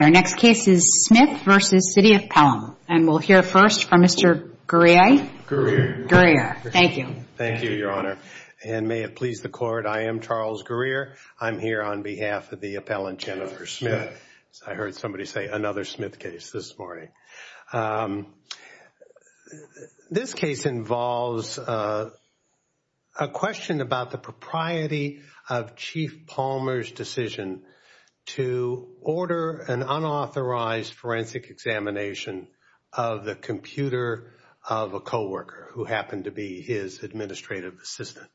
Our next case is Smith v. City of Pelham, and we'll hear first from Mr. Guerrier. Guerrier. Guerrier. Thank you. Thank you, Your Honor. And may it please the Court, I am Charles Guerrier. I'm here on behalf of the appellant Jennifer Smith. I heard somebody say another Smith case this morning. This case involves a question about the propriety of Chief Palmer's decision to order an unauthorized forensic examination of the computer of a coworker who happened to be his administrative assistant.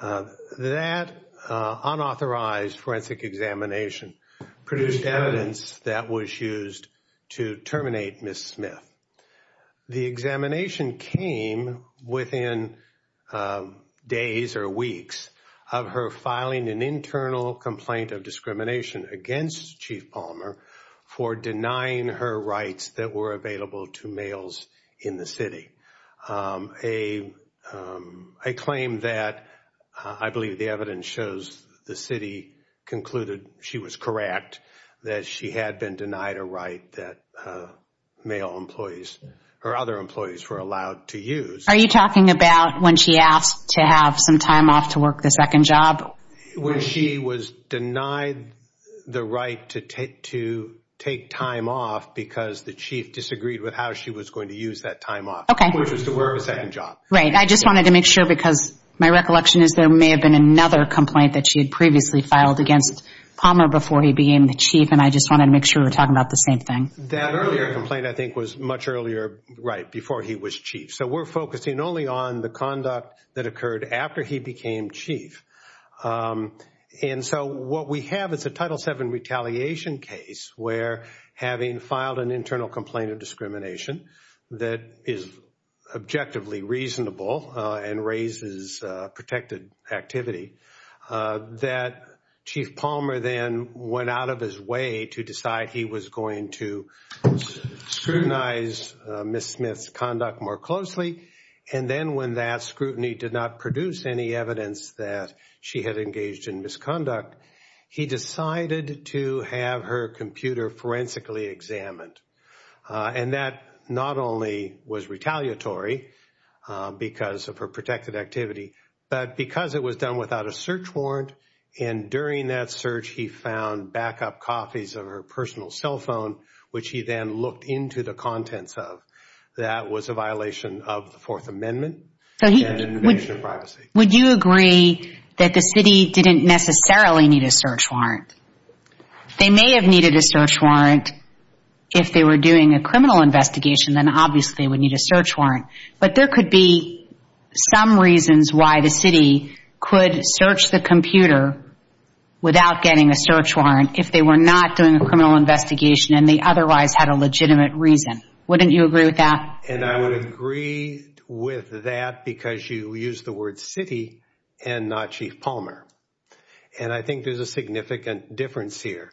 That unauthorized forensic examination produced evidence that was used to terminate Ms. Smith. The examination came within days or weeks of her filing an internal complaint of discrimination against Chief Palmer for denying her rights that were available to males in the city. A claim that I believe the evidence shows the city concluded she was correct, that she had been denied a right that male employees or other employees were allowed to use. Are you talking about when she asked to have some time off to work the second job? When she was denied the right to take time off because the chief disagreed with how she was going to use that time off. Okay. Which was to wear a second job. Right. I just wanted to make sure because my recollection is there may have been another complaint that she had previously filed against Palmer before he became the chief and I just wanted to make sure we're talking about the same thing. That earlier complaint I think was much earlier right before he was chief. So we're focusing only on the conduct that occurred after he became chief. And so what we have is a Title VII retaliation case where having filed an internal complaint of discrimination that is objectively reasonable and raises protected activity, that Chief Palmer then went out of his way to decide he was going to scrutinize Ms. Smith's conduct more closely. And then when that scrutiny did not produce any evidence that she had engaged in misconduct, he decided to have her computer forensically examined. And that not only was retaliatory because of her protected activity but because it was done without a search warrant and during that search he found backup copies of her personal cell phone which he then looked into the contents of. That was a violation of the Fourth Amendment and invasion of privacy. Would you agree that the city didn't necessarily need a search warrant? They may have needed a search warrant if they were doing a criminal investigation then obviously they would need a search warrant. But there could be some reasons why the city could search the computer without getting a search warrant if they were not doing a criminal investigation and they otherwise had a legitimate reason. Wouldn't you agree with that? And I would agree with that because you used the word city and not Chief Palmer. And I think there's a significant difference here.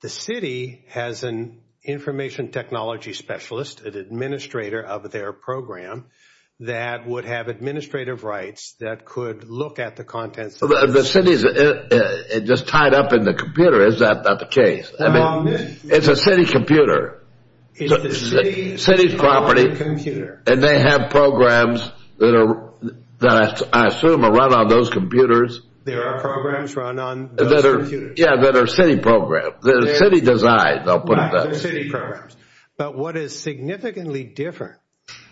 The city has an information technology specialist, an administrator of their program, that would have administrative rights that could look at the contents of the city. The city is just tied up in the computer, is that not the case? It's a city computer. It's the city's property and they have programs that I assume are run on those computers. There are programs run on those computers. Yeah, that are city programs, they're city designed, I'll put it that way. Yeah, they're city programs. But what is significantly different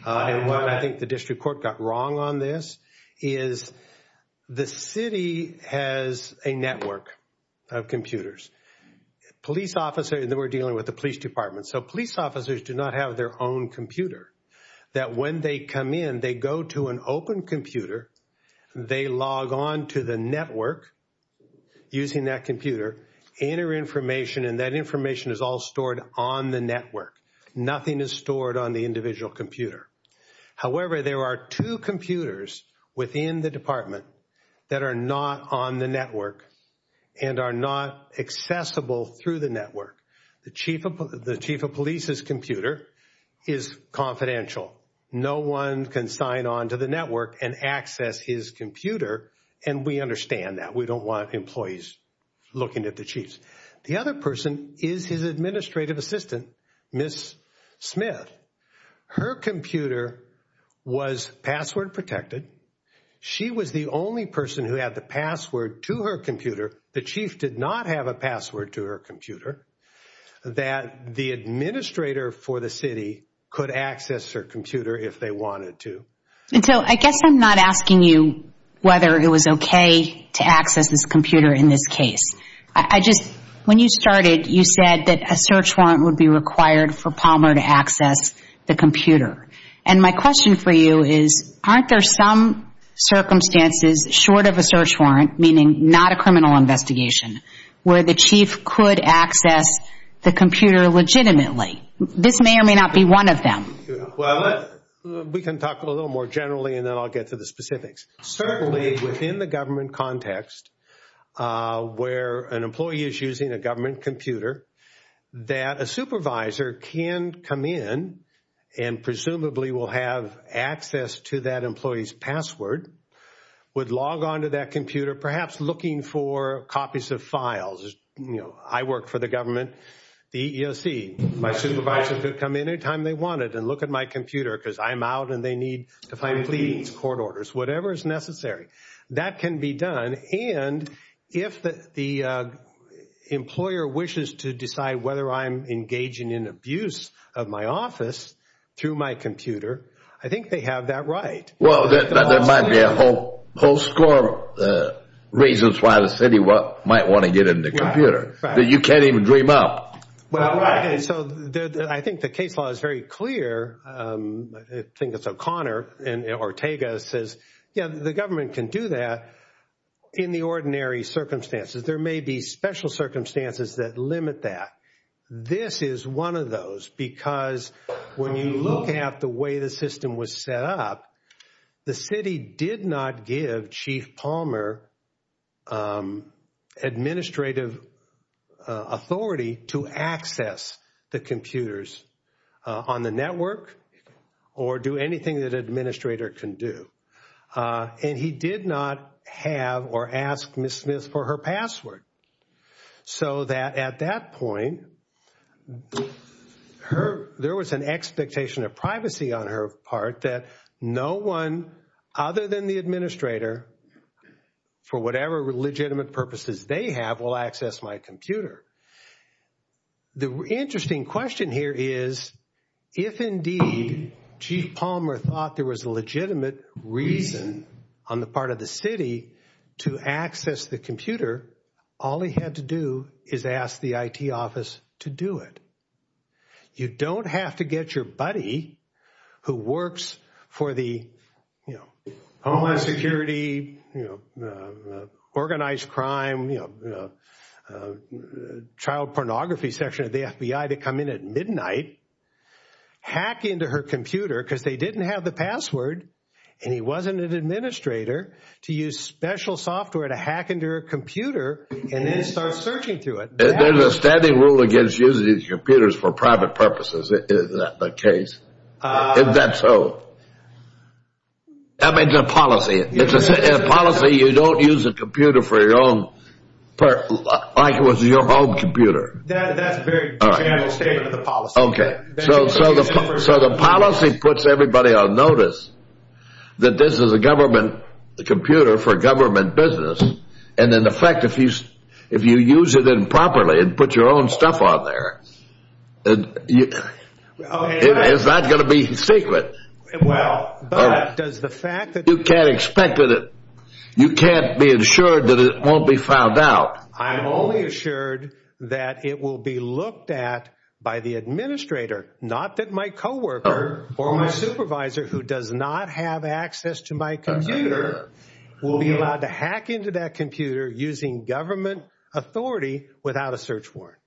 and why I think the district court got wrong on this is the city has a network of computers. Police officers, we're dealing with the police department. So police officers do not have their own computer. That when they come in, they go to an open computer, they log on to the network using that computer, enter information, and that information is all stored on the network. Nothing is stored on the individual computer. However, there are two computers within the department that are not on the network and are not accessible through the network. The chief of police's computer is confidential. No one can sign on to the network and access his computer and we understand that. We don't want employees looking at the chief's. The other person is his administrative assistant, Ms. Smith. Her computer was password protected. She was the only person who had the password to her computer. The chief did not have a password to her computer that the administrator for the city could access her computer if they wanted to. And so I guess I'm not asking you whether it was okay to access this computer in this case. I just, when you started, you said that a search warrant would be required for Palmer to access the computer. And my question for you is, aren't there some circumstances short of a search warrant, meaning not a criminal investigation, where the chief could access the computer legitimately? This may or may not be one of them. Well, we can talk a little more generally and then I'll get to the specifics. Certainly within the government context where an employee is using a government computer that a supervisor can come in and presumably will have access to that employee's password, would log on to that computer, perhaps looking for copies of files. I work for the government, the EEOC. My supervisors could come in any time they wanted and look at my computer because I'm out and they need to find these court orders, whatever is necessary. That can be done. And if the employer wishes to decide whether I'm engaging in abuse of my office through my computer, I think they have that right. Well, there might be a whole score of reasons why the city might want to get in the computer that you can't even dream up. Well, I think the case law is very clear. I think it's O'Connor and Ortega says, yeah, the government can do that in the ordinary circumstances. There may be special circumstances that limit that. This is one of those because when you look at the way the system was set up, the city did not give Chief Palmer administrative authority to access the computers on the network or do anything that an administrator can do. And he did not have or ask Ms. Smith for her password. So that at that point, there was an expectation of privacy on her part that no one other than the administrator, for whatever legitimate purposes they have, will access my computer. The interesting question here is, if indeed Chief Palmer thought there was a legitimate reason on the part of the city to access the computer, all he had to do is ask the IT office to do it. You don't have to get your buddy who works for the Homeland Security, organized crime, child pornography section of the FBI to come in at midnight, hack into her computer because they didn't have the password, and he wasn't an administrator, to use special software to hack into her computer and then start searching through it. There's a standing rule against using computers for private purposes. Is that the case? If that's so, that makes a policy. In a policy, you don't use a computer for your own, like it was your home computer. That's a very bad statement of the policy. Okay. So the policy puts everybody on notice that this is a government computer for government business, and in effect, if you use it improperly and put your own stuff on there, it's not going to be secret. Well, but does the fact that you can't expect it, you can't be assured that it won't be found out. I'm only assured that it will be looked at by the administrator, not that my coworker or my supervisor, who does not have access to my computer, will be allowed to hack into that computer using government authority without a search warrant.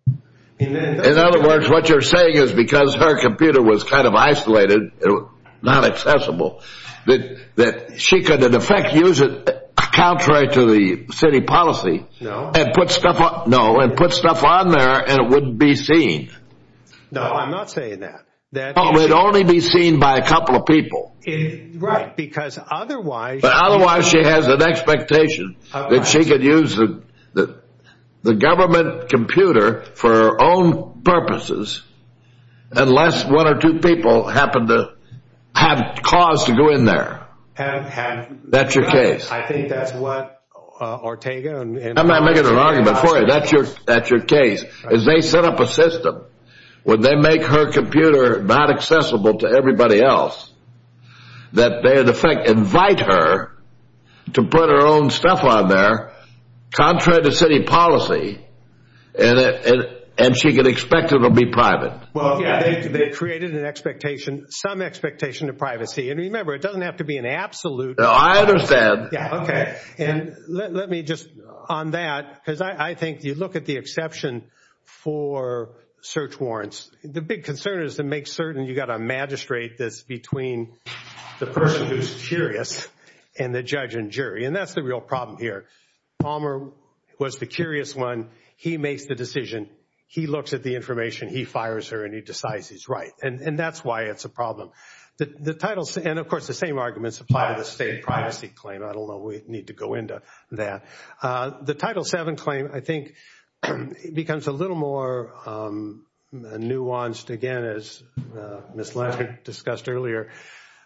In other words, what you're saying is because her computer was kind of isolated, not accessible, that she could in effect use it contrary to the city policy and put stuff on there and it wouldn't be seen. No, I'm not saying that. It would only be seen by a couple of people. Right, because otherwise... But otherwise she has an expectation that she could use the government computer for her own purposes unless one or two people happen to have cause to go in there. That's your case. I think that's what Ortega and... I'm not making an argument for you. That's your case. What I'm saying is they set up a system where they make her computer not accessible to everybody else that they in effect invite her to put her own stuff on there contrary to city policy and she can expect it to be private. Well, they created an expectation, some expectation of privacy, and remember it doesn't have to be an absolute... No, I understand. Yeah, okay. And let me just on that, because I think you look at the exception for search warrants. The big concern is to make certain you've got a magistrate that's between the person who's curious and the judge and jury, and that's the real problem here. Palmer was the curious one. He makes the decision. He looks at the information. He fires her and he decides he's right, and that's why it's a problem. The title... And of course the same arguments apply to the state privacy claim. I don't know. We need to go into that. The Title VII claim I think becomes a little more nuanced again as Ms. Lansing discussed earlier.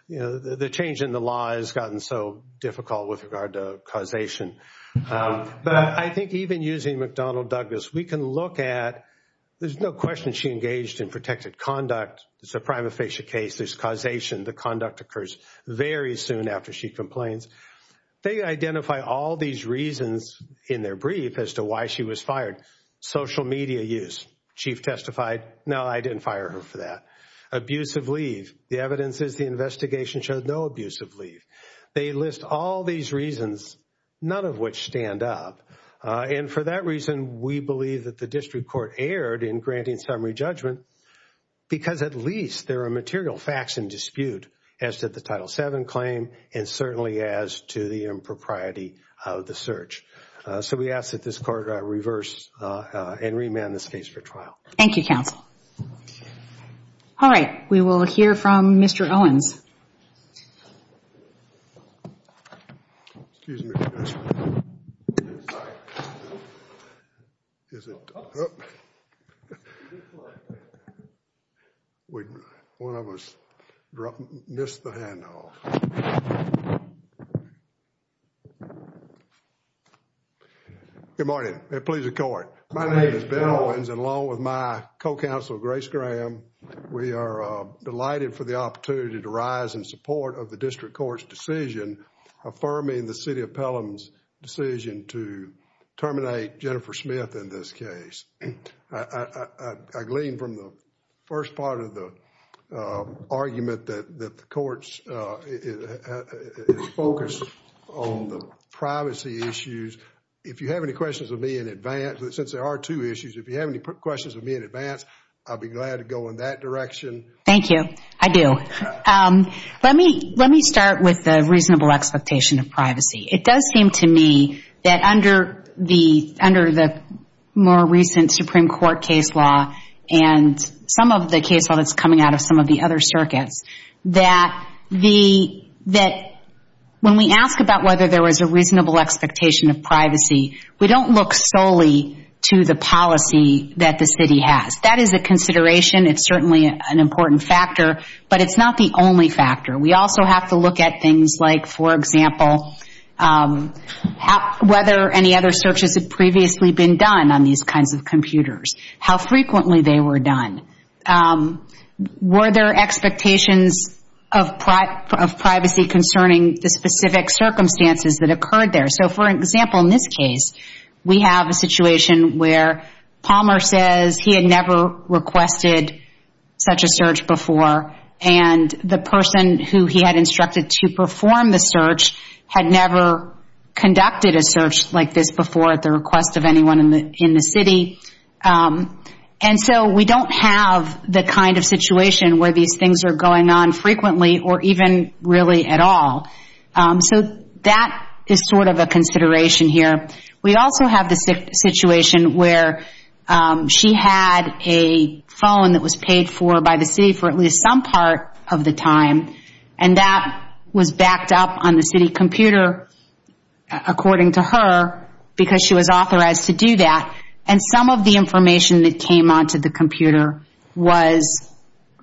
The change in the law has gotten so difficult with regard to causation, but I think even using McDonnell-Douglas, we can look at... There's no question she engaged in protected conduct. It's a prima facie case. There's causation. The conduct occurs very soon after she complains. They identify all these reasons in their brief as to why she was fired. Social media use. Chief testified, no, I didn't fire her for that. Abusive leave. The evidence is the investigation showed no abusive leave. They list all these reasons, none of which stand up, and for that reason we believe that the district court erred in granting summary judgment because at least there are material facts in dispute as to the Title VII claim and certainly as to the impropriety of the search. So we ask that this court reverse and remand this case for trial. Thank you, counsel. All right. We will hear from Mr. Owens. Excuse me. Sorry. One of us missed the handoff. Good morning. May it please the court. My name is Ben Owens and along with my co-counsel, Grace Graham, we are delighted for the opportunity to rise in support of the district court's decision affirming the city of Pelham's decision to terminate Jennifer Smith in this case. I gleaned from the first part of the argument that the court's focus on the privacy issues. If you have any questions of me in advance, since there are two issues, if you have any questions of me in advance, I would be glad to go in that direction. Thank you. I do. Let me start with the reasonable expectation of privacy. It does seem to me that under the more recent Supreme Court case law and some of the case law that's coming out of some of the other circuits, that when we ask about whether there was a reasonable expectation of privacy, we don't look solely to the policy that the city has. That is a consideration. It's certainly an important factor, but it's not the only factor. We also have to look at things like, for example, whether any other searches had previously been done on these kinds of computers, how frequently they were done. Were there expectations of privacy concerning the specific circumstances that occurred there? So, for example, in this case, we have a situation where Palmer says he had never requested such a search before, and the person who he had instructed to perform the search had never conducted a search like this before at the request of anyone in the city. And so we don't have the kind of situation where these things are going on frequently or even really at all. So that is sort of a consideration here. We also have the situation where she had a phone that was paid for by the city for at least some part of the time, and that was backed up on the city computer, according to her, because she was authorized to do that. And some of the information that came onto the computer was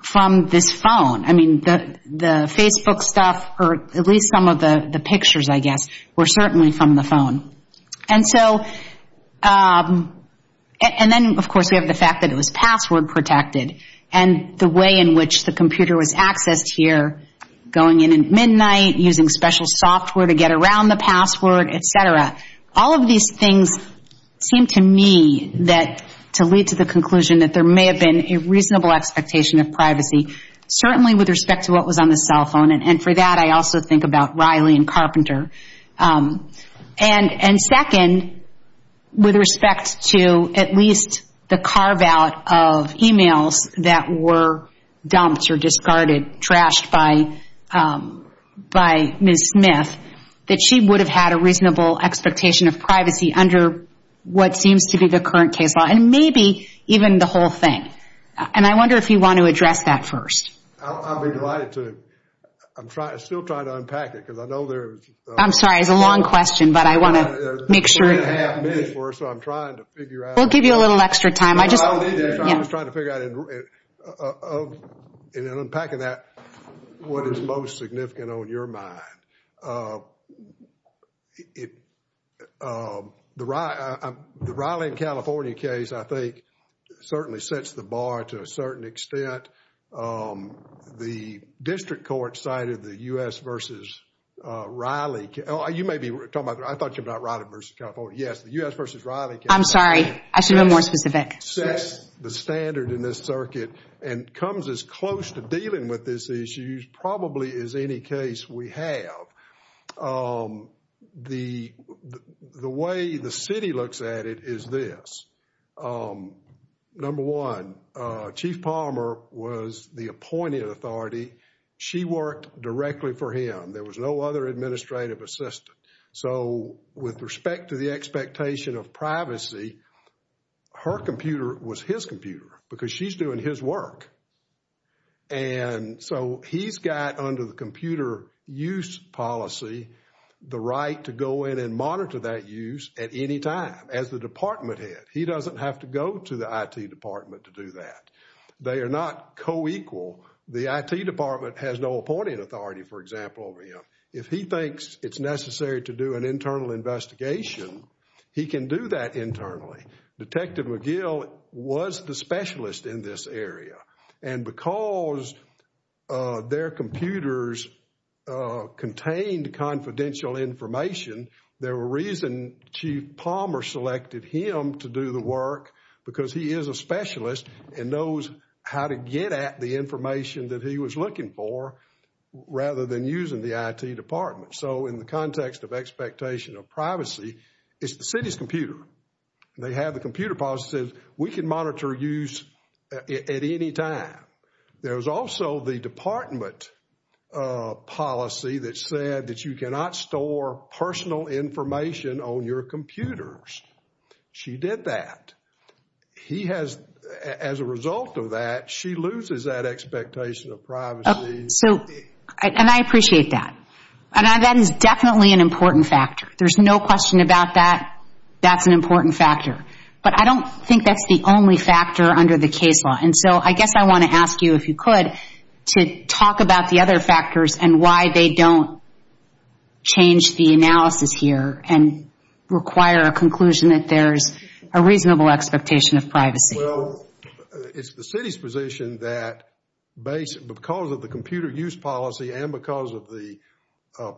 from this phone. I mean, the Facebook stuff, or at least some of the pictures, I guess, were certainly from the phone. And then, of course, we have the fact that it was password protected, and the way in which the computer was accessed here, going in at midnight, using special software to get around the password, et cetera. All of these things seem to me to lead to the conclusion that there may have been a reasonable expectation of privacy, certainly with respect to what was on the cell phone. And for that, I also think about Riley and Carpenter. And second, with respect to at least the carve-out of emails that were dumped or discarded, trashed by Ms. Smith, that she would have had a reasonable expectation of privacy under what seems to be the current case law, and maybe even the whole thing. And I wonder if you want to address that first. I'd be delighted to. I'm still trying to unpack it, because I know there's... I'm sorry, it's a long question, but I want to make sure... I have a minute for it, so I'm trying to figure out... We'll give you a little extra time. I just... I was trying to figure out, in unpacking that, what is most significant on your mind. The Riley and California case, I think, certainly sets the bar to a certain extent. The district court cited the U.S. v. Riley. You may be talking about... I thought you were talking about Riley v. California. Yes, the U.S. v. Riley case... I'm sorry. I should have been more specific. ...sets the standard in this circuit and comes as close to dealing with this issue, probably, as any case we have. The way the city looks at it is this. Number one, Chief Palmer was the appointed authority. She worked directly for him. There was no other administrative assistant. So, with respect to the expectation of privacy, her computer was his computer, because she's doing his work. And so, he's got, under the computer use policy, the right to go in and monitor that use at any time, as the department head. He doesn't have to go to the IT department to do that. They are not co-equal. The IT department has no appointing authority, for example, over him. If he thinks it's necessary to do an internal investigation, he can do that internally. Detective McGill was the specialist in this area. And because their computers contained confidential information, there were reasons Chief Palmer selected him to do the work, because he is a specialist and knows how to get at the information that he was looking for, rather than using the IT department. So, in the context of expectation of privacy, it's the city's computer. They have the computer policies. We can monitor use at any time. There was also the department policy that said that you cannot store personal information on your computers. She did that. He has, as a result of that, she loses that expectation of privacy. So, and I appreciate that. And that is definitely an important factor. There's no question about that. That's an important factor. But I don't think that's the only factor under the case law. And so, I guess I want to ask you, if you could, to talk about the other factors and why they don't change the analysis here and require a conclusion that there's a reasonable expectation of privacy. Well, it's the city's position that because of the computer use policy and because of the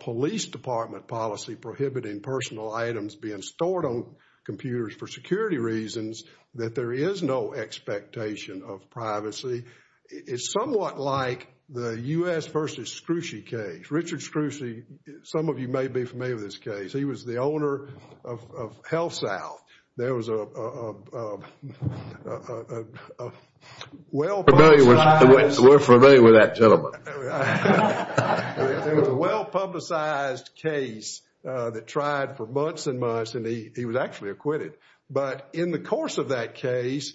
police department policy prohibiting personal items being stored on computers for security reasons, that there is no expectation of privacy. It's somewhat like the U.S. versus Scruci case. Richard Scruci, some of you may be familiar with this case. He was the owner of HealthSouth. There was a well-publicized... We're familiar with that gentleman. There was a well-publicized case that tried for months and months and he was actually acquitted. But in the course of that case,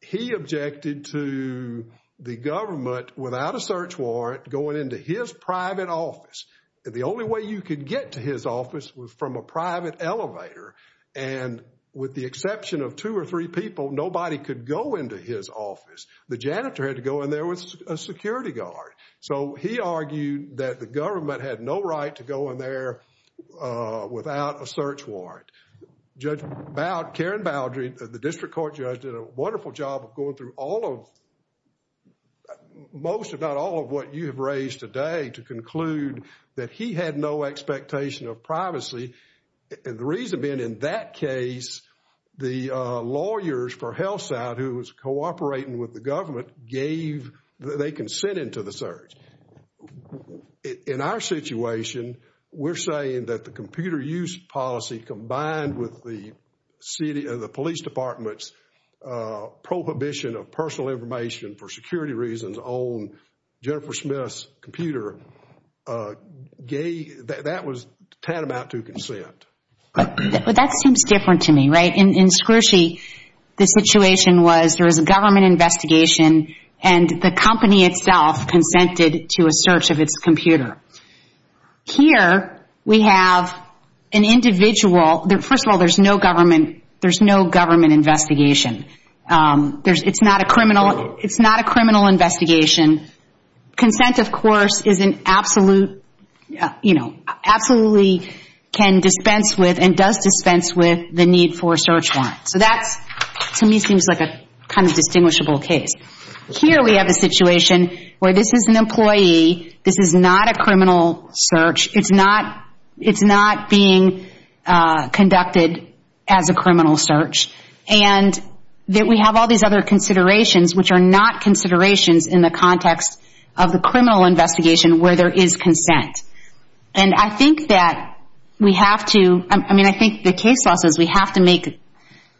he objected to the government without a search warrant going into his private office. The only way you could get to his office was from a private elevator. And with the exception of two or three people, nobody could go into his office. The janitor had to go in there with a security guard. So he argued that the government had no right to go in there without a search warrant. Judge Karen Baldry, the district court judge, did a wonderful job of going through all of... most, if not all, of what you have raised today to conclude that he had no expectation of privacy. And the reason being, in that case, the lawyers for HealthSouth, who was cooperating with the government, gave... they consented to the search. In our situation, we're saying that the computer use policy combined with the police department's prohibition of personal information for security reasons on Jennifer Smith's computer, that was tantamount to consent. But that seems different to me, right? In Scroogey, the situation was that there was a government investigation and the company itself consented to a search of its computer. Here, we have an individual... First of all, there's no government investigation. It's not a criminal investigation. Consent, of course, is an absolute... you know, absolutely can dispense with and does dispense with the need for a search warrant. So that, to me, seems like a kind of distinguishable case. Here we have a situation where this is an employee, this is not a criminal search, it's not being conducted as a criminal search, and that we have all these other considerations which are not considerations in the context of the criminal investigation where there is consent. And I think that we have to...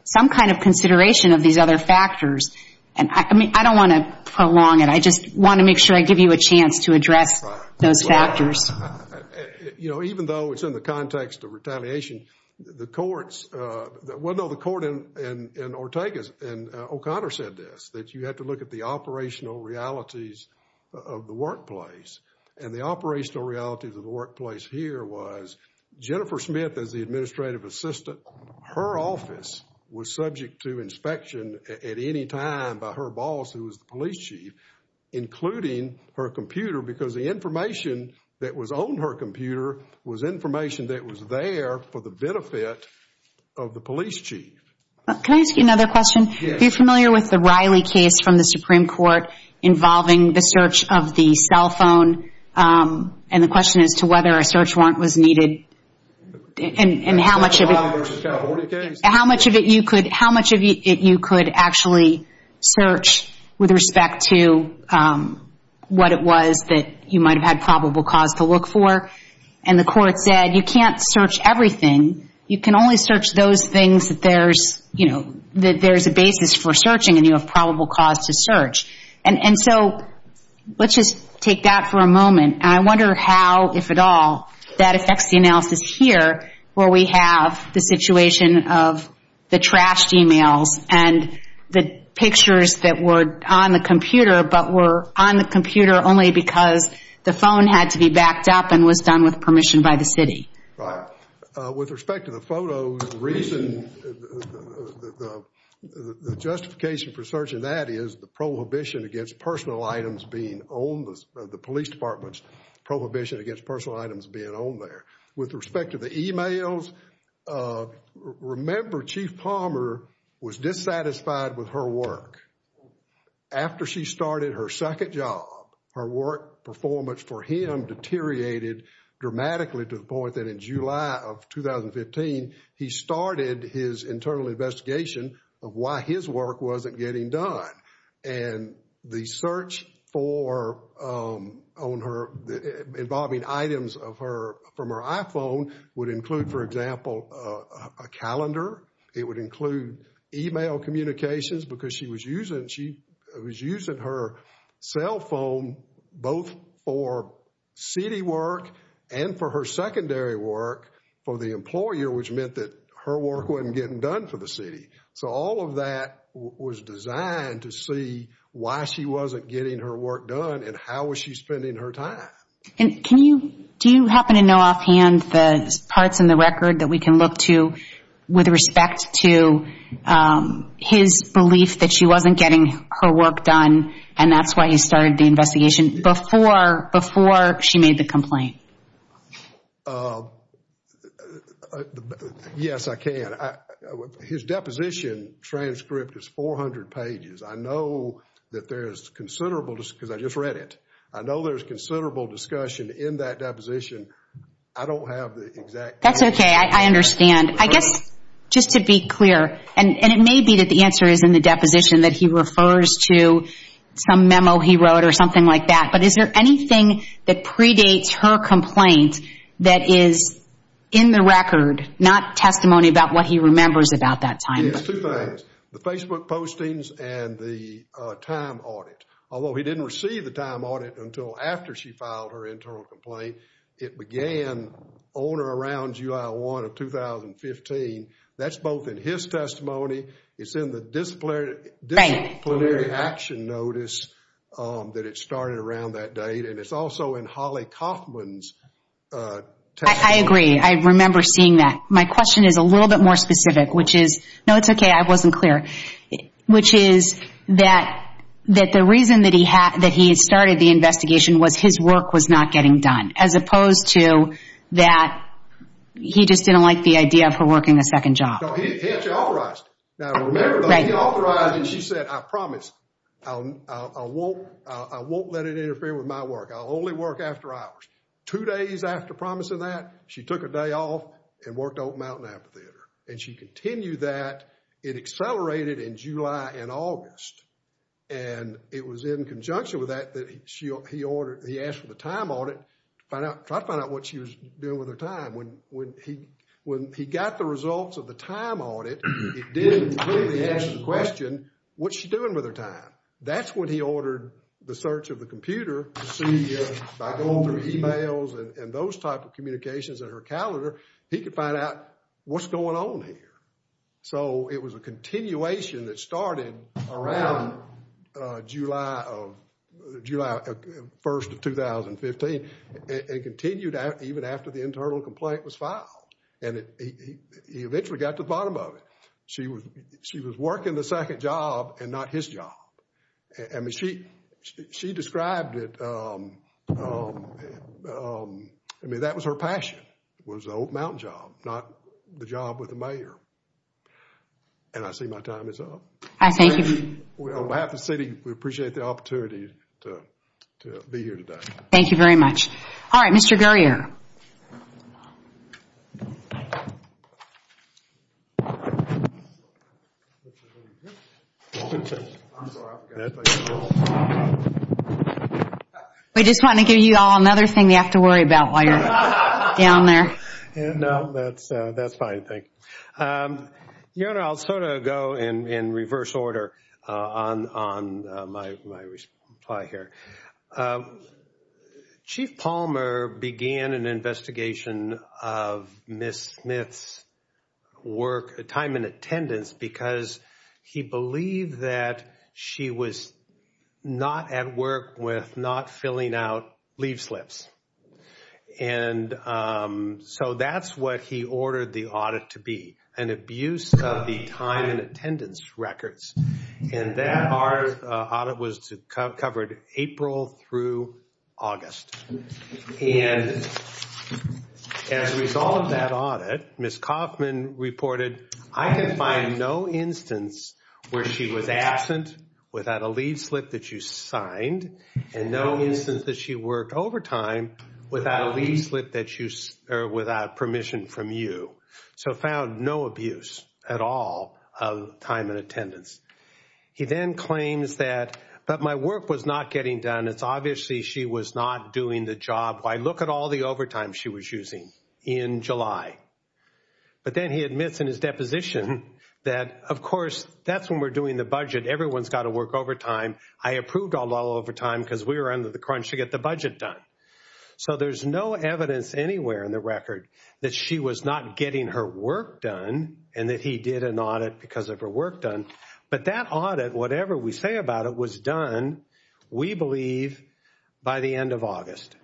some kind of consideration of these other factors. I mean, I don't want to prolong it. I just want to make sure I give you a chance to address those factors. You know, even though it's in the context of retaliation, the courts... Well, no, the court in Ortega's and O'Connor said this, that you have to look at the operational realities of the workplace. And the operational realities of the workplace here was Jennifer Smith, as the administrative assistant, her office was subject to inspection at any time by her boss, who was the police chief, including her computer, because the information that was on her computer was information that was there for the benefit of the police chief. Can I ask you another question? Yes. Are you familiar with the Riley case from the Supreme Court involving the search of the cell phone and the question as to whether a search warrant was needed and how much of it... How much of it you could actually search with respect to what it was that you might have had probable cause to look for? And the court said, you can't search everything. You can only search those things that there's, you know, that there's a basis for searching and you have probable cause to search. And so let's just take that for a moment. I wonder how, if at all, that affects the analysis here where we have the situation of the trashed emails and the pictures that were on the computer but were on the computer only because the phone had to be backed up and was done with permission by the city. Right. With respect to the photos, the reason, the justification for searching that is the prohibition against personal items being owned, the police department's prohibition against personal items being owned there. With respect to the emails, remember Chief Palmer was dissatisfied with her work. After she started her second job, her work performance for him deteriorated dramatically to the point that in July of 2015, he started his internal investigation of why his work wasn't getting done. And the search for, on her, involving items of her, from her iPhone would include, for example, a calendar. It would include email communications because she was using, she was using her cell phone both for city work and for her secondary work for the employer which meant that her work wasn't getting done for the city. So all of that was designed to see why she wasn't getting her work done and how was she spending her time. Do you happen to know offhand the parts in the record that we can look to with respect to his belief that she wasn't getting her work done and that's why he started the investigation before she made the complaint? Yes, I can. His deposition transcript is 400 pages. I know that there's considerable because I just read it. I know there's considerable discussion in that deposition. I don't have the exact... That's okay, I understand. I guess, just to be clear, and it may be that the answer is in the deposition that he refers to some memo he wrote or something like that but is there anything that predates her complaint that is in the record not testimony about what he remembers about that time? Yes, two things. The Facebook postings and the time audit although he didn't receive the time audit until after she filed her internal complaint. It began on or around July 1 of 2015. That's both in his testimony. It's in the disciplinary action notice that it started around that date and it's also in Holly Kaufman's testimony. I agree. I remember seeing that. My question is a little bit more specific which is... No, it's okay, I wasn't clear. Which is that the reason that he started the investigation was his work was not getting done as opposed to that he just didn't like the idea of her working a second job. No, he actually authorized it. Now, remember he authorized it and she said, I promise I won't let it interfere with my work. I'll only work after hours. Two days after promising that she took a day off and worked at Oak Mountain Apotheater and she continued that. It accelerated in July and August and it was in conjunction with that that he asked for the time audit to try to find out what she was doing with her time. When he got the results of the time audit it didn't really answer the question what's she doing with her time? That's when he ordered the search of the computer to see by going through emails and those type of communications in her calendar he could find out what's going on here. So it was a continuation that started around July 1st of 2015 and continued out even after the internal complaint was filed and he eventually got to the bottom of it. She was working the second job and not his job. I mean she described it I mean that was her passion was the Oak Mountain job not the job with the mayor and I see my time is up. On behalf of the city we appreciate the opportunity to be here today. Thank you very much. Alright, Mr. Gurrier. We just want to give you all another thing you have to worry about while you're down there. No, that's fine, thank you. Your Honor, I'll sort of go in reverse order on my reply here. Chief Palmer began an investigation of Ms. Smith's work time in attendance because he believed that she was not at work with not filling out leaf slips and so that's what he ordered the audit to be an abuse of the time in attendance records and that audit was covered April through August and as a result of that audit Ms. Kaufman reported I can find no instance where she was absent without a leaf slip that you signed and no instance that she worked overtime without a leaf slip that you, or without permission from you. So found no abuse at all of time in attendance. He then claims that but my work was not getting done it's obviously she was not doing the job. Why look at all the overtime she was using in July. But then he admits in his deposition that of course that's when we're doing the budget everyone's got to work overtime. I approved all overtime because we were under the crunch to get the budget done. So there's no evidence anywhere in the record that she was not getting her work done and that he did an audit because of her work done. But that audit whatever we say about it was done we believe by the end of August.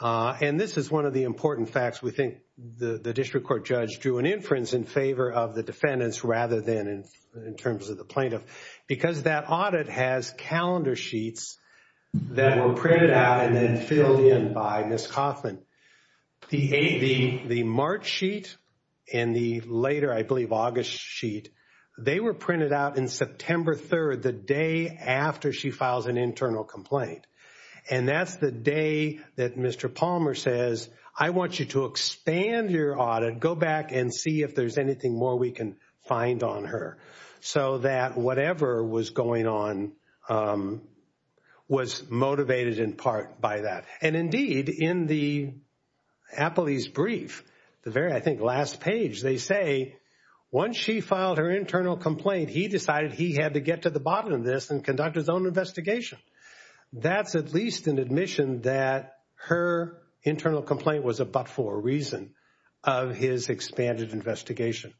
And this is one of the important facts we think the district court judge drew an inference in favor of the defendants rather than in terms of the plaintiff because that audit has calendar sheets that were printed out and then filled in by Ms. Kaufman. The March sheet and the later I believe August sheet they were printed out in September 3rd the day after she files an internal complaint. And that's the day that Mr. Palmer says I want you to expand your audit go back and see if there's anything more we can find on her. So that whatever was going on was motivated in part by that. And indeed in the appellee's brief the very I think last page they say once she filed her internal complaint he decided he had to get to the bottom of this and conduct his own investigation. That's at least an admission that her internal complaint was a but for a reason of his expanded investigation.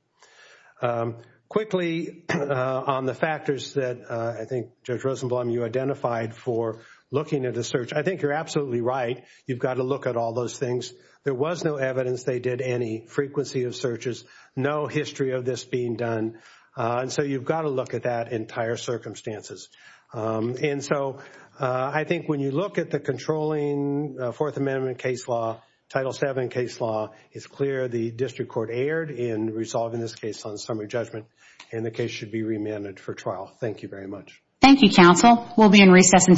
Quickly on the factors that I think Judge Rosenblum you identified for looking at the search I think you're absolutely right you've got to look at all those things there was no evidence they did any frequency of searches no history of this being done and so you've got to look at that entire circumstances. And so I think when you look at the controlling Fourth Amendment case law Title VII case law it's clear the District Court erred in resolving this case on summary judgment and the case should be remanded for trial. Thank you very much. Thank you counsel we'll be in recess